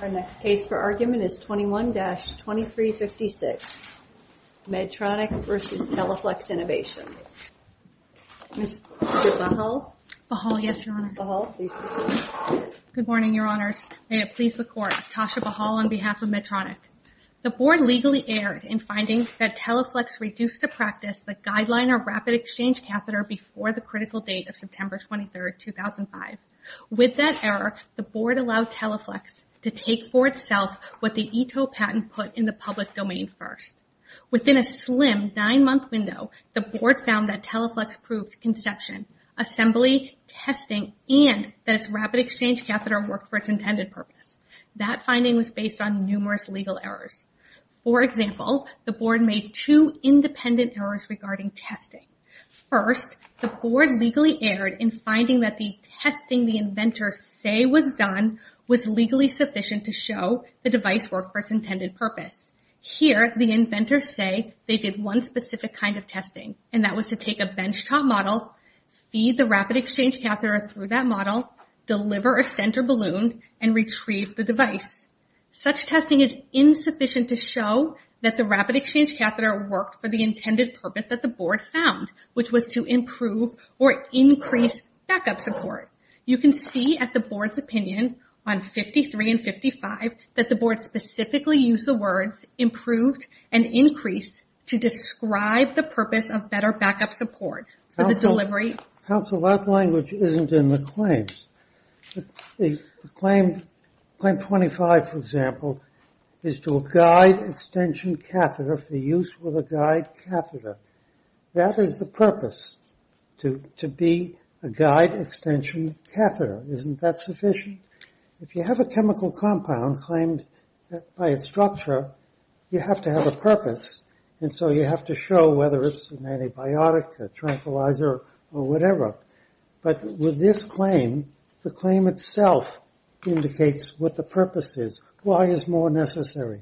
Our next case for argument is 21-2356, Medtronic v. Teleflex Innovations. Ms. Tasha Bahal? Bahal, yes, Your Honor. Bahal, please proceed. Good morning, Your Honors. May it please the Court, Tasha Bahal on behalf of Medtronic. The Board legally erred in finding that Teleflex reduced to practice the Guideline or Rapid Exchange Catheter before the critical date of September 23, 2005. With that error, the Board allowed Teleflex to take for itself what the ETO patent put in the public domain first. Within a slim nine-month window, the Board found that Teleflex proved conception, assembly, testing, and that its Rapid Exchange Catheter worked for its intended purpose. That finding was based on numerous legal errors. For example, the Board made two say was done was legally sufficient to show the device worked for its intended purpose. Here, the inventors say they did one specific kind of testing, and that was to take a benchtop model, feed the Rapid Exchange Catheter through that model, deliver a stent or balloon, and retrieve the device. Such testing is insufficient to show that the Rapid Exchange Catheter worked for the intended purpose that the Board found, which was to improve or increase backup support. You can see at the Board's opinion on 53 and 55 that the Board specifically used the words improved and increased to describe the purpose of better backup support for the delivery. Counsel, that language isn't in the claims. The claim 25, for example, is to a guide extension catheter for use with a guide catheter. That is the purpose, to be a guide extension catheter. Isn't that sufficient? If you have a chemical compound claimed by its structure, you have to have a purpose, and so you have to show whether it's an antibiotic, a tranquilizer, or whatever. But with this claim, the claim itself indicates what the purpose is. Why is more necessary?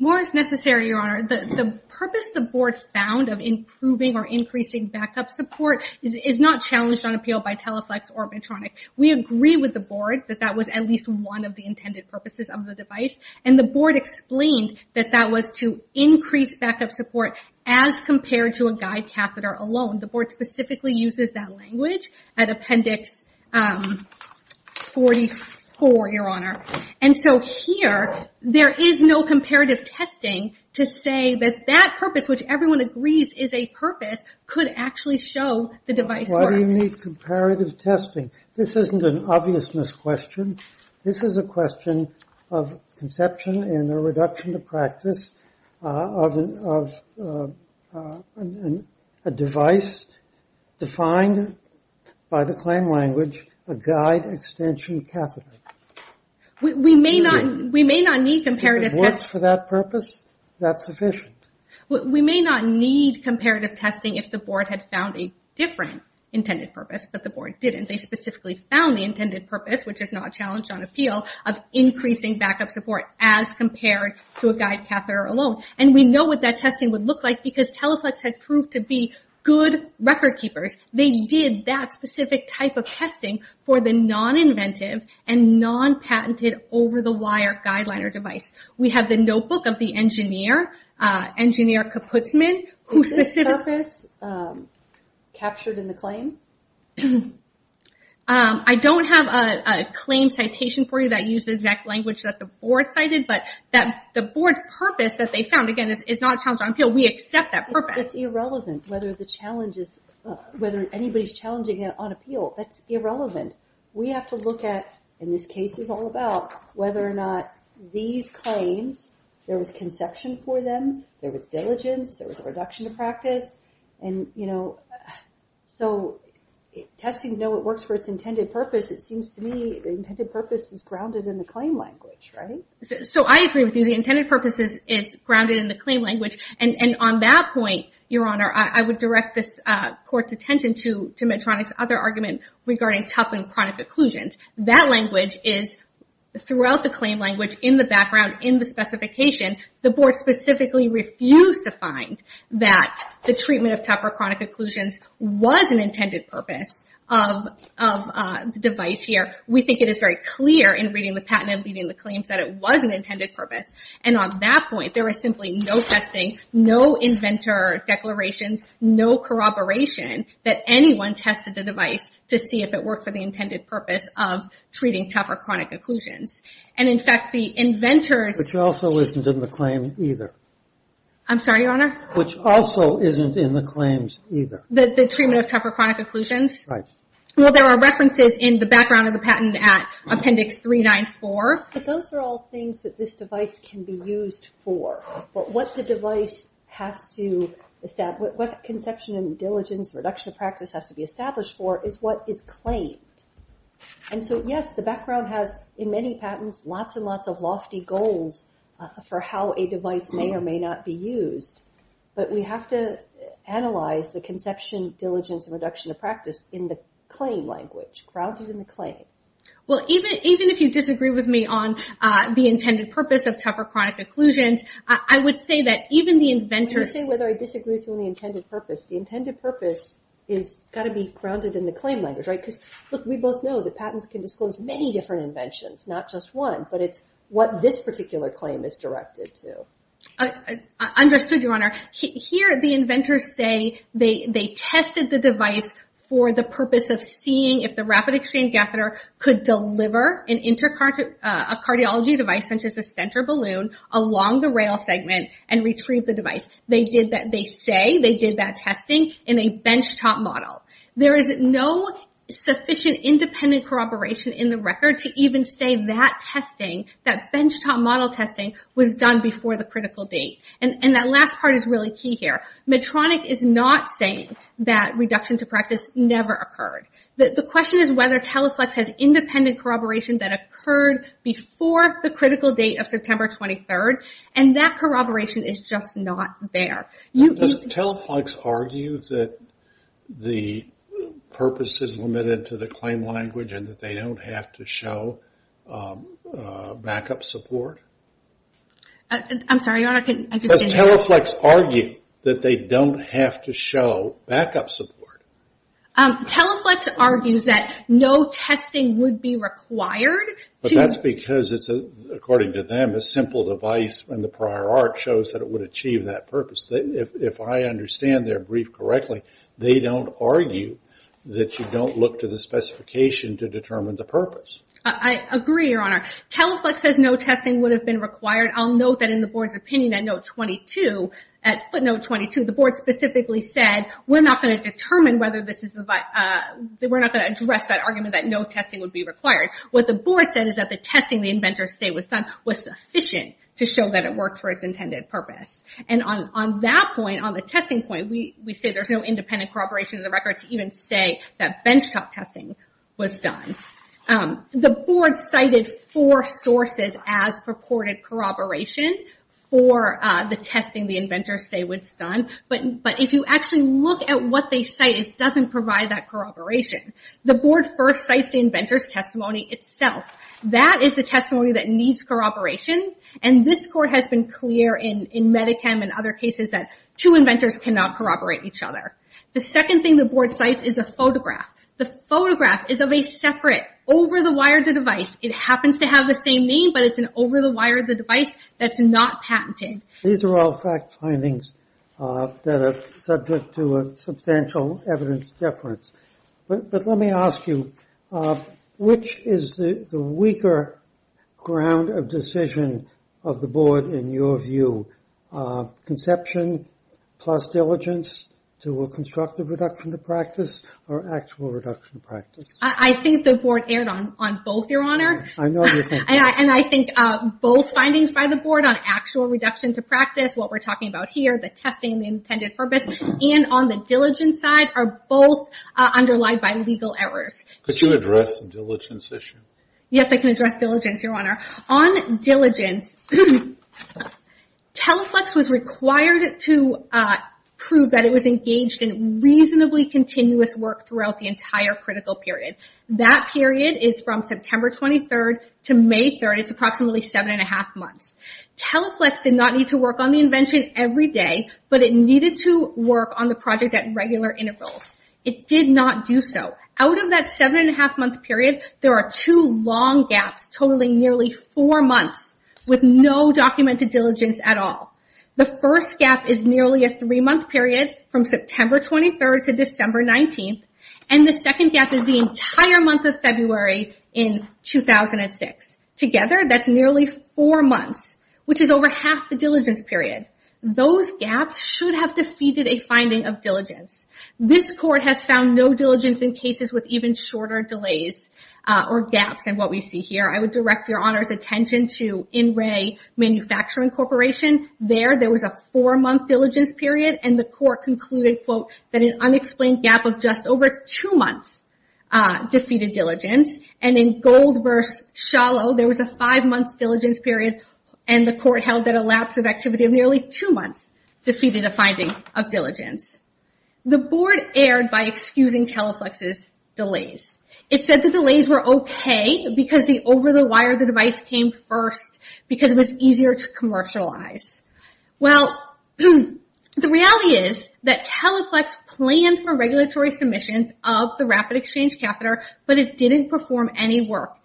More is necessary, Your Honor. The purpose the Board found of improving or increasing backup support is not challenged on appeal by Teleflex or Medtronic. We agree with the Board that that was at least one of the intended purposes of the device, and the Board explained that that was to increase backup support as compared to a guide catheter alone. The Board specifically uses that testing to say that that purpose, which everyone agrees is a purpose, could actually show the device works. Why do you need comparative testing? This isn't an obvious misquestion. This is a question of conception and a reduction of practice of a device defined by the claim language, a guide extension catheter. We may not need comparative testing. If it works for that purpose, that's sufficient. We may not need comparative testing if the Board had found a different intended purpose, but the Board didn't. They specifically found the intended purpose, which is not challenged on appeal, of increasing backup support as compared to a guide catheter alone. We know what that testing would look like because Teleflex had proved to be good record keepers. They did that specific type of testing for the non-inventive and non-patented over-the-wire guideliner device. We have the notebook of the engineer Kaputzman. Is this purpose captured in the claim? I don't have a claim citation for you that uses that language that the Board cited, but that the Board's purpose that they found, again, is not challenged on appeal. We accept that purpose. It's irrelevant whether anybody's challenging it on appeal. That's irrelevant. We have to look at, and this case is all about, whether or not these claims, there was conception for them, there was diligence, there was a reduction of practice. Testing, though it works for its intended purpose, it seems to me the intended purpose is grounded in the claim language, right? I agree with you. The intended purpose is grounded in the claim language. On that point, Your Honor, I would direct this Court's attention to Medtronic's other argument regarding tough and chronic occlusions. That language is throughout the claim language, in the background, in the specification, the Board specifically refused to find that the treatment of tough or chronic occlusions was an intended purpose of the device here. We think it is very clear in reading the patent and reading the claims that it was an intended purpose. On that point, there was simply no testing, no inventor declarations, no corroboration that anyone tested the device to see if it worked for the intended purpose of treating tough or chronic occlusions. In fact, the inventors... Which also isn't in the claim either. I'm sorry, Your Honor? Which also isn't in the claims either. The treatment of tough or chronic occlusions? Right. Well, there are references in the background of the patent at Appendix 394. But those are all things that this device can be used for. What the device has to establish, what conception and diligence and reduction of practice has to be established for is what is claimed. And so, yes, the background has, in many patents, lots and lots of lofty goals for how a device may or may not be used. But we have to analyze the conception, diligence, and reduction of practice in the claim language, grounded in the claim. Well, even if you disagree with me on the intended purpose of tough or chronic occlusions, I would say that even the inventors... The intended purpose has got to be grounded in the claim language, right? Because, look, we both know that patents can disclose many different inventions, not just one. But it's what this particular claim is directed to. Understood, Your Honor. Here, the inventors say they tested the device for the purpose of seeing if the rapid-exchange catheter could deliver a cardiology device, such as a stent or balloon, along the rail segment and retrieve the device. They say they did that testing in a benchtop model. There is no sufficient independent corroboration in the record to even say that testing, that benchtop model testing, was done before the critical date. And that last part is really key here. Medtronic is not saying that reduction to practice never occurred. The question is whether Teleflex has independent corroboration that occurred before the critical date of September 23rd. And that corroboration is just not there. Now, does Teleflex argue that the purpose is limited to the claim language and that they don't have to show backup support? I'm sorry, Your Honor, I just didn't hear. Does Teleflex argue that they don't have to show backup support? Teleflex argues that no testing would be required to... That's because, according to them, a simple device in the prior art shows that it would achieve that purpose. If I understand their brief correctly, they don't argue that you don't look to the specification to determine the purpose. I agree, Your Honor. Teleflex says no testing would have been required. I'll note that in the board's opinion at footnote 22, the board specifically said, we're not going to address that argument that no testing would be required. What the board said is that the testing the inventors say was done was sufficient to show that it worked for its intended purpose. And on that point, on the testing point, we say there's no independent corroboration of the record to even say that benchtop testing was done. The board cited four sources as purported corroboration for the testing the inventors say was done. But if you actually look at what they cite, it doesn't provide that itself. That is the testimony that needs corroboration. And this court has been clear in Medicam and other cases that two inventors cannot corroborate each other. The second thing the board cites is a photograph. The photograph is of a separate, over-the-wire-the-device. It happens to have the same name, but it's an over-the-wire-the-device that's not patented. These are all fact findings that are substantial evidence difference. But let me ask you, which is the weaker ground of decision of the board in your view? Conception plus diligence to a constructive reduction to practice or actual reduction to practice? I think the board erred on both, your honor. And I think both findings by the board on actual reduction to practice, what we're talking about here, the testing, the intended purpose, and on the diligence side are both underlined by legal errors. Could you address the diligence issue? Yes, I can address diligence, your honor. On diligence, Teleflex was required to prove that it was engaged in reasonably continuous work throughout the entire critical period. That period is from September 23rd to May 3rd. It's approximately seven and a half months. Teleflex did not need to work on the invention every day, but it needed to work on the project at regular intervals. It did not do so. Out of that seven and a half month period, there are two long gaps totaling nearly four months with no documented diligence at all. The first gap is nearly a three-month period from September 23rd to December 19th. And the second gap is the entire month of February in 2006. Together, that's nearly four months, which is over half the diligence period. Those gaps should have defeated a finding of diligence. This court has found no diligence in cases with even shorter delays or gaps in what we see here. I would direct your honor's attention to In Re Manufacturing Corporation. There, there was a four-month diligence period and the court concluded, quote, that an unexplained gap of just over two months defeated diligence. And in Gold vs. Shallow, there was a five-month diligence period and the court held that a lapse of activity of nearly two months defeated a finding of diligence. The board erred by excusing Teleflex's delays. It said the delays were okay because the wire of the device came first because it was easier to commercialize. Well, the reality is that Teleflex planned for regulatory submissions of the Rapid Exchange Catheter, but it didn't perform any work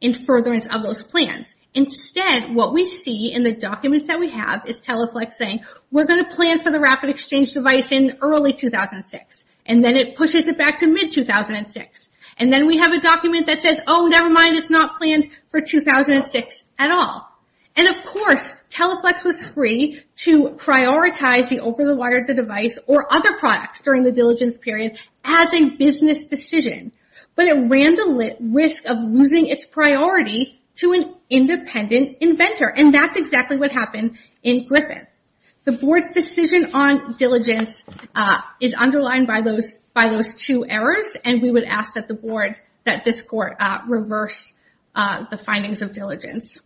in furtherance of those plans. Instead, what we see in the documents that we have is Teleflex saying, we're going to plan for the Rapid Exchange device in early 2006. And then it pushes it back to mid-2006. And then we have a document that says, oh, never mind, it's not planned for 2006 at all. And of course, Teleflex was free to prioritize the over-the-wire of the device or other products during the diligence period as a business decision, but it ran the risk of losing its priority to an independent inventor. And that's exactly what happened in Griffin. The board's decision on diligence is underlined by those two errors, and we would ask that the board, that this court reverse the findings of diligence.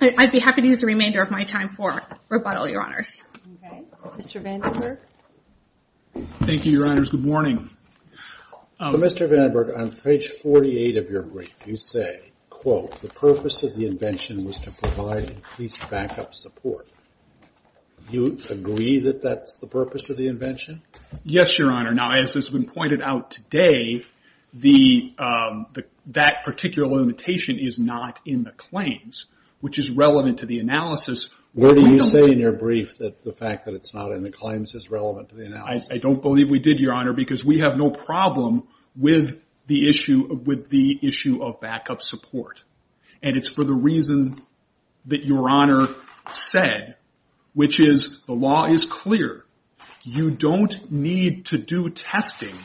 I'd be happy to use the remainder of my time for rebuttal, Your Honors. Okay. Mr. Vandenberg? Thank you, Your Honors. Good morning. Mr. Vandenberg, on page 48 of your brief, you say, quote, the purpose of the invention was to provide increased backup support. Do you agree that that's the purpose of the invention? Yes, Your Honor. Now, as has been pointed out today, that particular limitation is not in the claims, which is relevant to the analysis. What do you say in your brief that the fact that it's not in the claims is relevant to the analysis? I don't believe we did, Your Honor, because we have no problem with the issue of backup support. And it's for the reason that Your Honor said, which is the law is clear. You don't need to do testing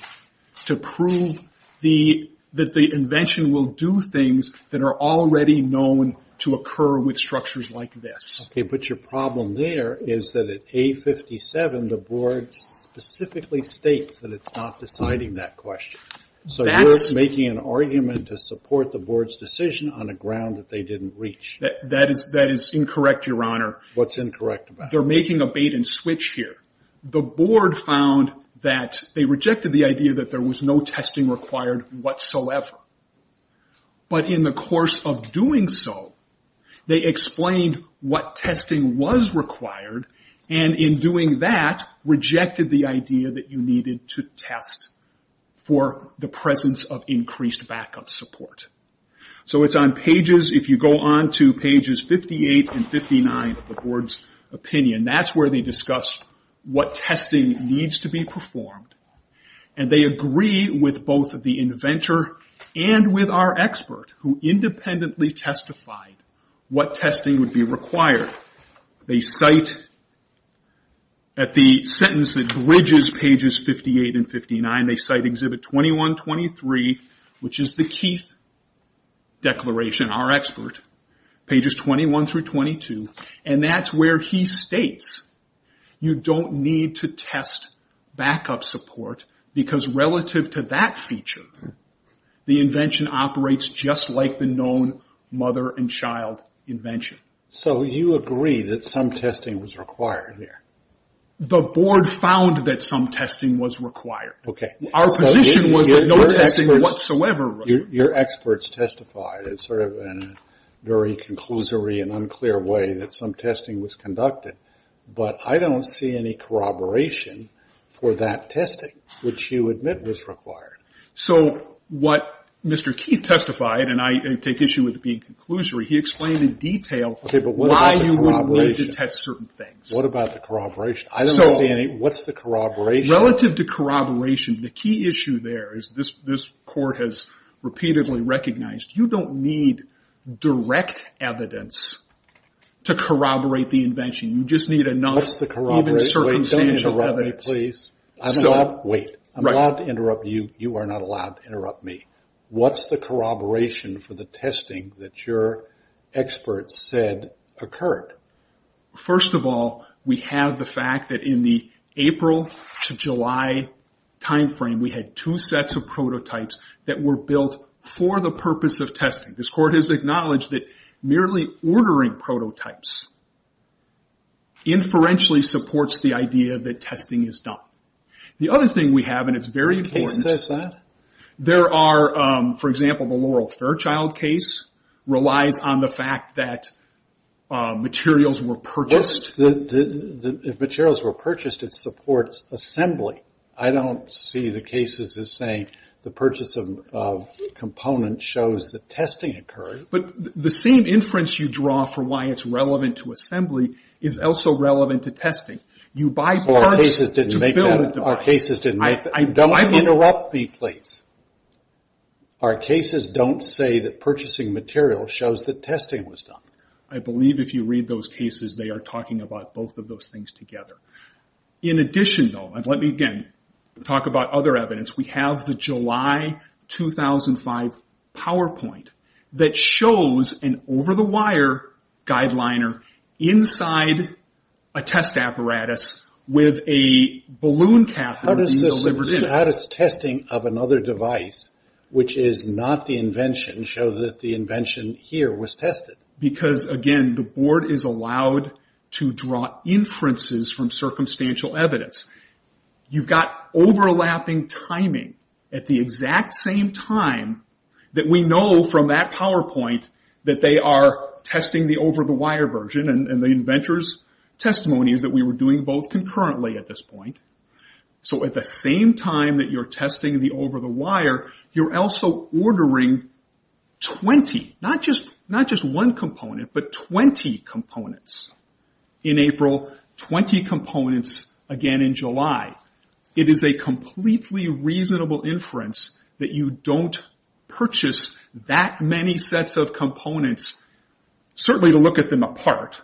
to prove that the invention will do things that are already known to occur with structures like this. Okay, but your problem there is that at A57, the board specifically states that it's not deciding that question. So, you're making an argument to support the board's decision on a ground that they didn't reach. That is incorrect, Your Honor. What's incorrect about it? They're making a bait and switch here. The board found that they rejected the idea that there was no testing required whatsoever. But in the course of doing so, they explained what testing was required, and in doing that, rejected the idea that you needed to test for the presence of increased backup support. So, it's on pages, if you go on to pages 58 and 59 of the board's opinion, that's where they discuss what testing needs to be performed. And they agree with both of inventor and with our expert, who independently testified what testing would be required. They cite, at the sentence that bridges pages 58 and 59, they cite exhibit 21-23, which is the Keith Declaration, our expert, pages 21 through 22. And that's where he states, you don't need to test backup support, because relative to that feature, the invention operates just like the known mother and child invention. So, you agree that some testing was required here? The board found that some testing was required. Okay. Our position was that no testing whatsoever was required. Your experts testified. It's sort of a very conclusory and unclear way that some testing was conducted, but I don't see any corroboration for that testing, which you admit was required. So, what Mr. Keith testified, and I take issue with it being conclusory, he explained in detail why you would need to test certain things. Okay, but what about the corroboration? What about the corroboration? I don't see any. What's the corroboration? Relative to corroboration, the key issue there is this court has repeatedly recognized, you don't need direct evidence to corroborate the invention. You just need enough even circumstantial evidence. What's the corroboration? Don't interrupt me, please. I'm allowed to interrupt you. You are not allowed to interrupt me. What's the corroboration for the testing that your experts said occurred? First of all, we have the fact that in the case of testing, this court has acknowledged that merely ordering prototypes inferentially supports the idea that testing is done. The other thing we have, and it's very important. The case says that? For example, the Laurel Fairchild case relies on the fact that materials were purchased. If materials were purchased, it supports assembly. I don't see the cases as saying the purchase of components shows that testing occurred. But the same inference you draw for why it's relevant to assembly is also relevant to testing. You buy parts to build a device. Our cases didn't make that. Don't interrupt me, please. Our cases don't say that purchasing material shows that testing was done. I believe if you read those cases, they are talking about both of those things together. In addition, though, let me again talk about other evidence. We have the July 2005 PowerPoint that shows an over-the-wire guideliner inside a test apparatus with a balloon catheter being delivered in it. How does testing of another device, which is not the invention, show that the invention here was tested? Again, the board is allowed to draw inferences from circumstantial evidence. You've got overlapping timing at the exact same time that we know from that PowerPoint that they are testing the over-the-wire version. The inventor's testimony is that we were doing both concurrently at this point. At the same time that you're testing the over-the-wire, you're also ordering 20, not just one component, but 20 components in April, 20 components again in July. It is a completely reasonable inference that you don't purchase that many sets of components, certainly to look at them apart,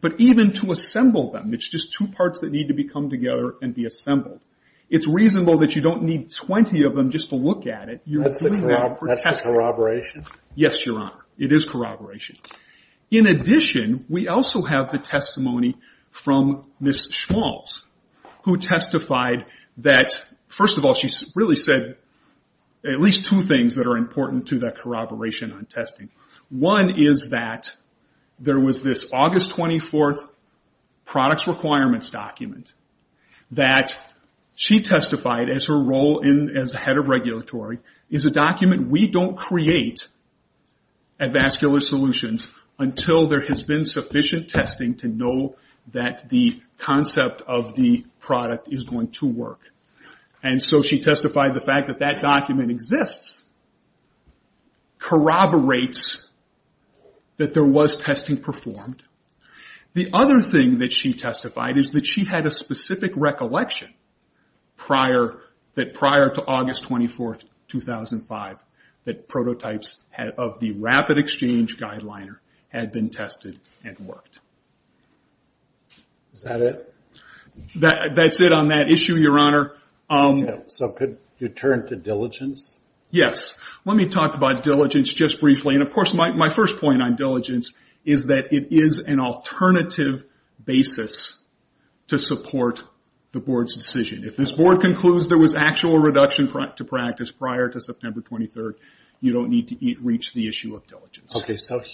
but even to assemble them. It's just two parts that need to come together and be assembled. It's reasonable that you don't need 20 of them just to look at it. That's the corroboration? Yes, Your Honor. It is corroboration. In addition, we also have the testimony from Ms. Schmalz, who testified that, first of all, she really said at least two things that are important to that corroboration on testing. One is that there was this August 24th products requirements document that she testified as her head of regulatory is a document we don't create at Vascular Solutions until there has been sufficient testing to know that the concept of the product is going to work. She testified the fact that that document exists corroborates that there was testing performed. The other thing that testified is that she had a specific recollection prior to August 24th, 2005, that prototypes of the rapid exchange guideliner had been tested and worked. Is that it? That's it on that issue, Your Honor. Could you turn to diligence? Yes. Let me talk about diligence just briefly. My first point on diligence is that it is an alternative basis to support the board's decision. If this board concludes there was actual reduction to practice prior to September 23rd, you don't need to reach the issue of diligence.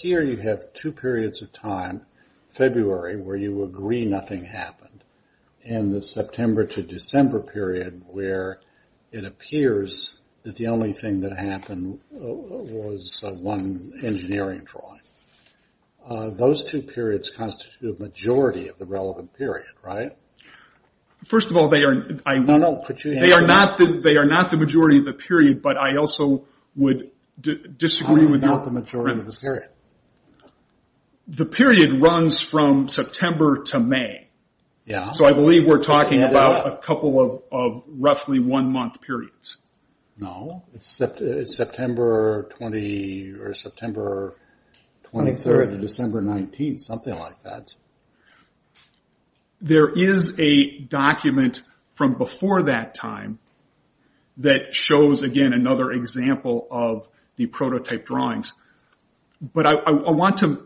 Here, you have two periods of time. February, where you agree nothing happened. The September to December period, where it appears that the engineering drawing. Those two periods constitute a majority of the relevant period, right? First of all, they are not the majority of the period, but I also would disagree. The period runs from September to May. I believe we're talking about a couple of roughly one-month periods. No. It's September 23rd to December 19th, something like that. There is a document from before that time that shows, again, another example of the prototype drawings. I want to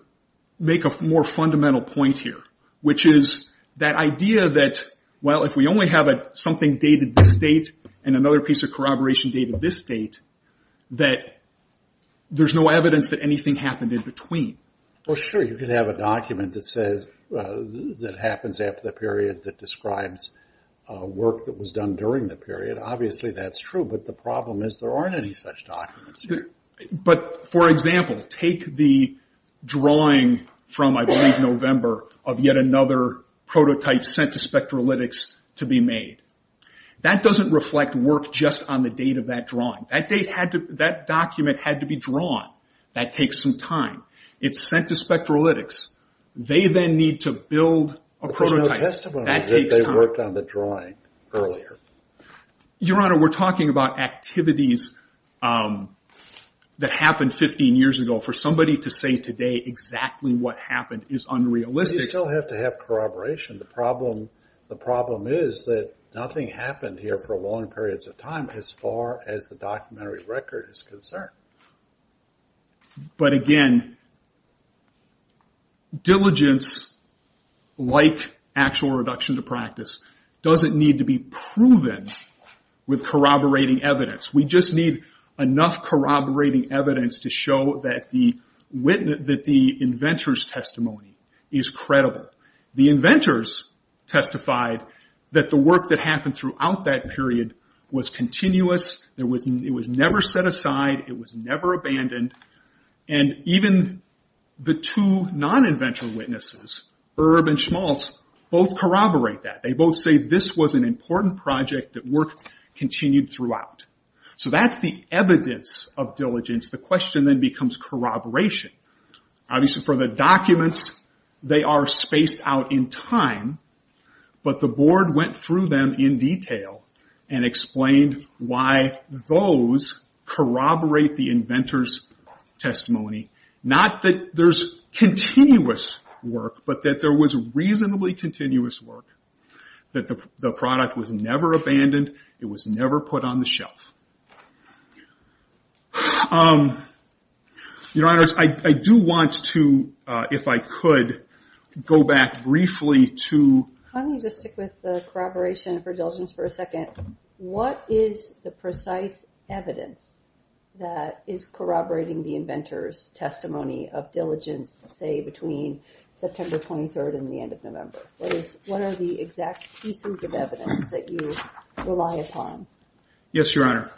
make a more fundamental point here, which is that idea that if we only have something dated this date and another piece of corroboration dated this date, that there's no evidence that anything happened in between. Sure. You could have a document that happens after the period that describes work that was done during the period. Obviously, that's true, but the problem is there aren't any such documents. For example, take the drawing from, I believe, November of yet another prototype sent to Spectralytics to be made. That doesn't reflect work just on the date of that drawing. That document had to be drawn. That takes some time. It's sent to Spectralytics. They then need to build a prototype. There's no testimony that they worked on the drawing earlier. Your Honor, we're talking about activities that happened 15 years ago. For somebody to say today exactly what happened is unrealistic. You still have to have corroboration. The problem is that nothing happened here for long periods of time as far as the documentary record is concerned. Again, diligence, like actual reduction to practice, doesn't need to be proven with corroborating evidence. We just need enough corroborating evidence to show that the inventor's testimony is credible. The inventors testified that the work that happened throughout that period was continuous. It was never set aside. It was never abandoned. Even the two non-inventor witnesses, Erb and Schmaltz, both corroborate that. They both say this was an important project that work continued throughout. That's the evidence of diligence. The question then becomes corroboration. Obviously, for the documents, they are spaced out in time, but the board went through them in detail and explained why those corroborate the inventor's testimony. Not that there's continuous work, but that there was reasonably continuous work. The product was never abandoned. It was never put on the shelf. Your Honor, I do want to, if I could, go back briefly to- Can you just stick with the corroboration for diligence for a second? What is the precise evidence that is corroborating the inventor's testimony of diligence, say, between September 23rd and the end of November? What are the exact pieces of evidence that you rely upon? Yes, Your Honor.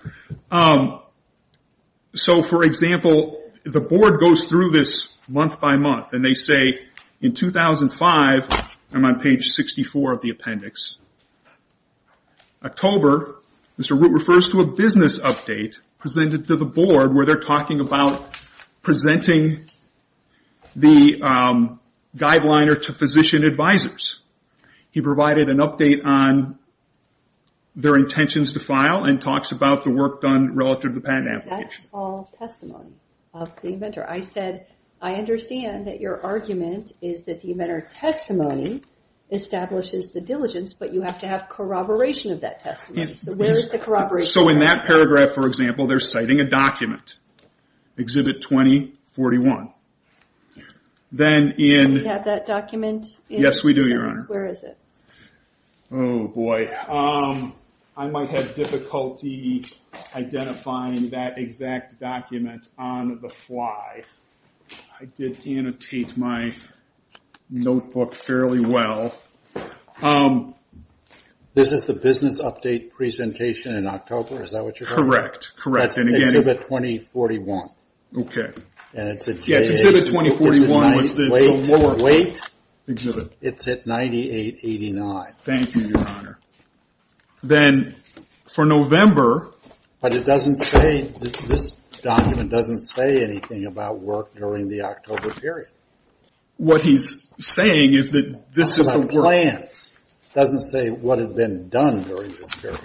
For example, the board goes through this month by month, and they say, in 2005, I'm on page 64 of the appendix, October, Mr. Root refers to a business update presented to the board where they're talking about presenting the guideliner to physician advisors. He provided an update on their intentions to file and talks about the work done relative to the patent application. That's all testimony of the inventor. I said, I understand that your argument is that the inventor's testimony establishes the diligence, but you have to have corroboration of that testimony. Where is the corroboration? In that paragraph, for example, they're citing a document, Exhibit 2041. Then in- Do you have that document? Yes, we do, Your Honor. Where is it? Oh, boy. I might have difficulty identifying that exact document on the fly. I did annotate my notebook fairly well. This is the business update presentation in October? Is that what you're- Correct, correct. That's Exhibit 2041. Okay. Yeah, it's Exhibit 2041. Wait. Exhibit. It's at 9889. Thank you, Your Honor. Then for November- But it doesn't say, this document doesn't say anything about work during the October period. What he's saying is that this is the work- About plans. It doesn't say what had been done during this period.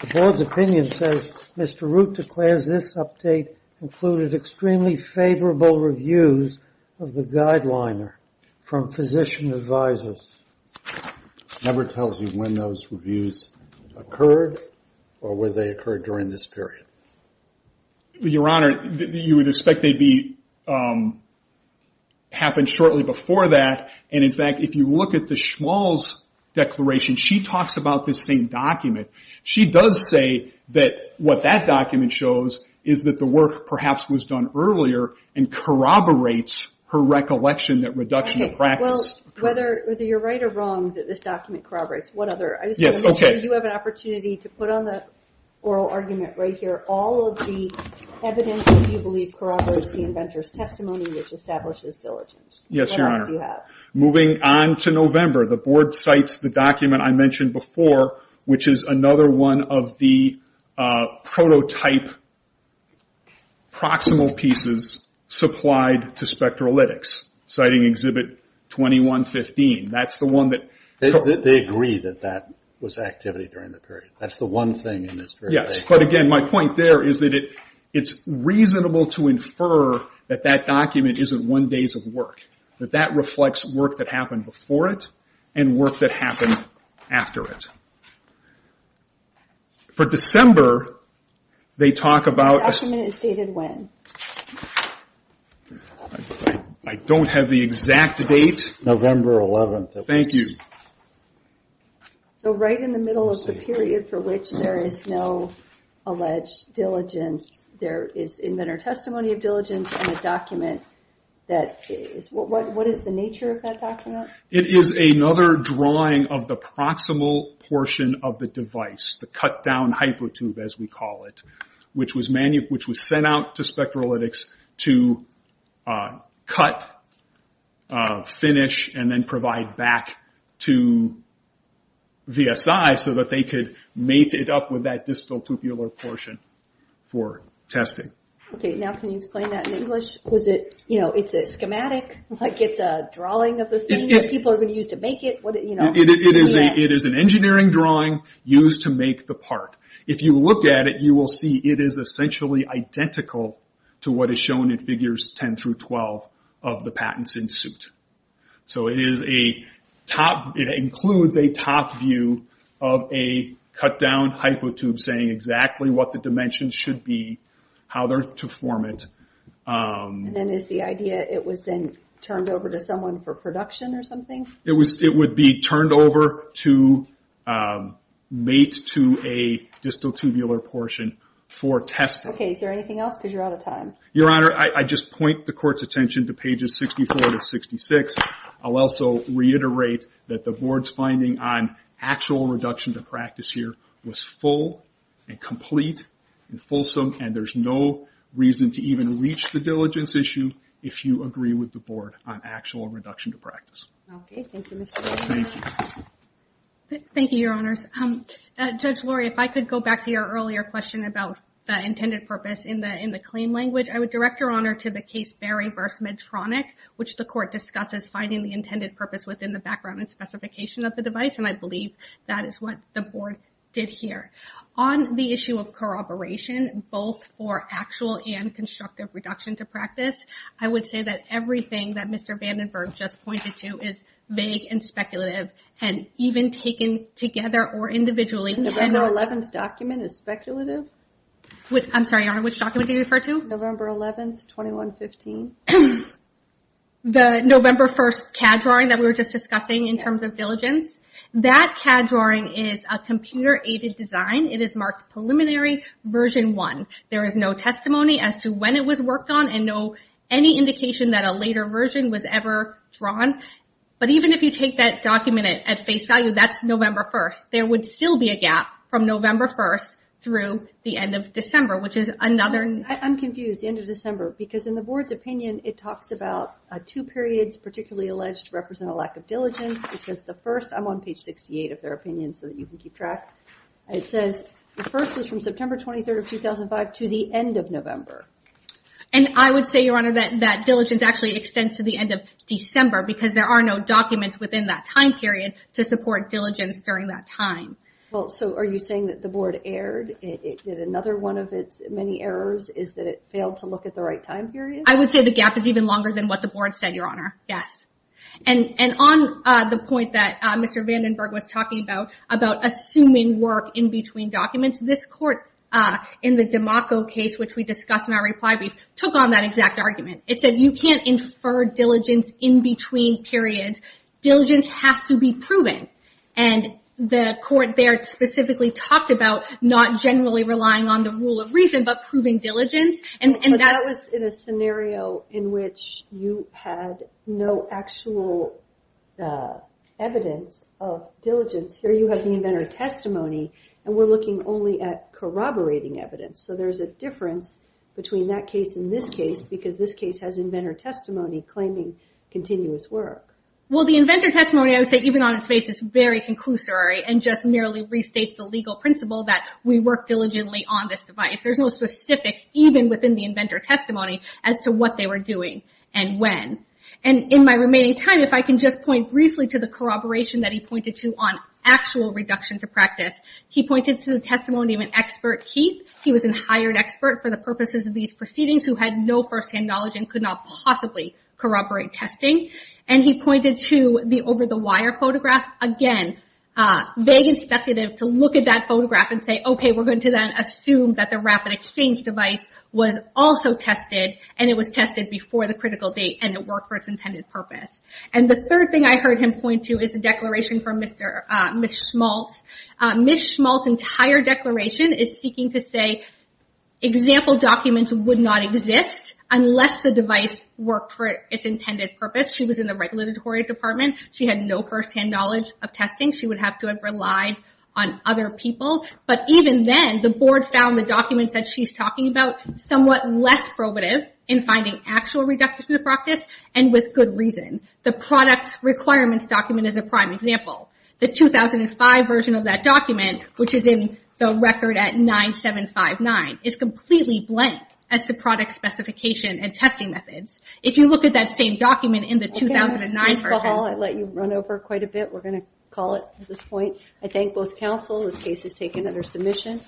The board's opinion says, Mr. Root declares this update included extremely favorable reviews of the guideliner from physician advisors. Never tells you when those reviews occurred or whether they occurred during this period. Your Honor, you would expect they'd be- Happen shortly before that. In fact, if you look at the Schmalz declaration, she talks about this same document. She does say that what that document shows is that the work perhaps was done earlier and corroborates her recollection that reduction- Okay. Well, whether you're right or wrong that this document corroborates what other- Yes, okay. I just want to make sure you have an opportunity to put on the oral argument right here all of the evidence that you believe corroborates the inventor's testimony which establishes diligence. Yes, Your Honor. What else do you have? Moving on to November, the board cites the document I mentioned before which is another one of the prototype proximal pieces supplied to Spectralytics citing Exhibit 2115. That's the one that- They agree that that was activity during the period. That's the one thing in this- Yes, but again, my point there is that it's reasonable to infer that that document isn't one days of work, that that reflects work that happened before it and work that happened after it. For December, they talk about- The document is dated when? I don't have the exact date. November 11th. Thank you. Right in the middle of the period for which there is no alleged diligence, there is inventor testimony of diligence in the document. What is the nature of that document? It is another drawing of the proximal portion of the device, the cut down hypertube as we call it, which was sent out to Spectralytics to cut, finish, and then provide back to VSI so that they could mate it up with that distal tupular portion for testing. Now, can you explain that in English? It's a schematic? It's a drawing of the thing that people are going to use to make it? It is an engineering drawing used to make the part. If you look at it, you will see it is essentially identical to what is shown in figures 10 through 12 of the patents in suit. It includes a top view of a cut down hypertube saying exactly what the dimension should be, how to form it. Then is the idea it was then turned over to someone for production or something? It would be turned over to mate to a distal tubular portion for testing. Okay. Is there anything else because you're out of time? Your Honor, I just point the court's attention to pages 64 to 66. I'll also reiterate that the actual reduction to practice here was full and complete and fulsome, and there's no reason to even reach the diligence issue if you agree with the board on actual reduction to practice. Okay. Thank you, Mr. O'Connor. Thank you. Thank you, Your Honors. Judge Lurie, if I could go back to your earlier question about the intended purpose in the claim language, I would direct Your Honor to the case Berry v. Medtronic, which the court discusses finding the intended purpose within the background and I believe that is what the board did here. On the issue of corroboration, both for actual and constructive reduction to practice, I would say that everything that Mr. Vandenberg just pointed to is vague and speculative and even taken together or individually. The November 11th document is speculative? I'm sorry, Your Honor, which document did you refer to? November 11th, 2115. Okay. The November 1st CAD drawing that we were just discussing in terms of diligence, that CAD drawing is a computer-aided design. It is marked Preliminary Version 1. There is no testimony as to when it was worked on and no indication that a later version was ever drawn. But even if you take that document at face value, that's November 1st, there would still be a gap from November 1st through the end of December, which is another... I'm confused, the end of December, because in the board's opinion, it talks about two periods particularly alleged to represent a lack of diligence. It says the first, I'm on page 68 of their opinion so that you can keep track, it says the first was from September 23rd of 2005 to the end of November. And I would say, Your Honor, that diligence actually extends to the end of December because there are no documents within that time period to support diligence during that time. Well, so are you saying that the board erred? It did another one of its many errors, is that it failed to look at the right time period? I would say the gap is even longer than what the board said, Your Honor. Yes. And on the point that Mr. Vandenberg was talking about, about assuming work in between documents, this court in the DiMacco case, which we discussed in our reply brief, took on that exact argument. It said you can't infer diligence in between periods. Diligence has to be proven. And the court there specifically talked about not generally relying on the rule of reason but proving diligence. But that was in a scenario in which you had no actual evidence of diligence. Here you have the inventor testimony and we're looking only at corroborating evidence. So there's a difference between that case and this case because this case has inventor testimony claiming continuous work. Well, the inventor testimony, I would say, even on its face, is very conclusory and just merely restates the legal principle that we work diligently on this device. There's no specifics, even within the inventor testimony, as to what they were doing and when. And in my remaining time, if I can just point briefly to the corroboration that he pointed to on actual reduction to practice. He pointed to the testimony of an expert, Keith. He was a hired expert for the purposes of these proceedings who had no first-hand knowledge and could not possibly corroborate testing. And he pointed to the over-the-wire photograph. Again, vague expectative to look at that photograph and say, okay, we're going to then assume that the rapid exchange device was also tested and it was tested before the critical date and it worked for its intended purpose. And the third thing I heard him point to is a declaration from Ms. Schmaltz. Ms. Schmaltz's entire declaration is seeking to say example documents would not exist unless the intended purpose. She was in the regulatory department. She had no first-hand knowledge of testing. She would have to have relied on other people. But even then, the board found the documents that she's talking about somewhat less probative in finding actual reduction to practice and with good reason. The product requirements document is a prime example. The 2005 version of that document, which is in the record at 9759, is completely blank as to the 2009 version. Okay, Ms. Schmaltz, I let you run over quite a bit. We're going to call it at this point. I thank both counsel. This case is taken under submission.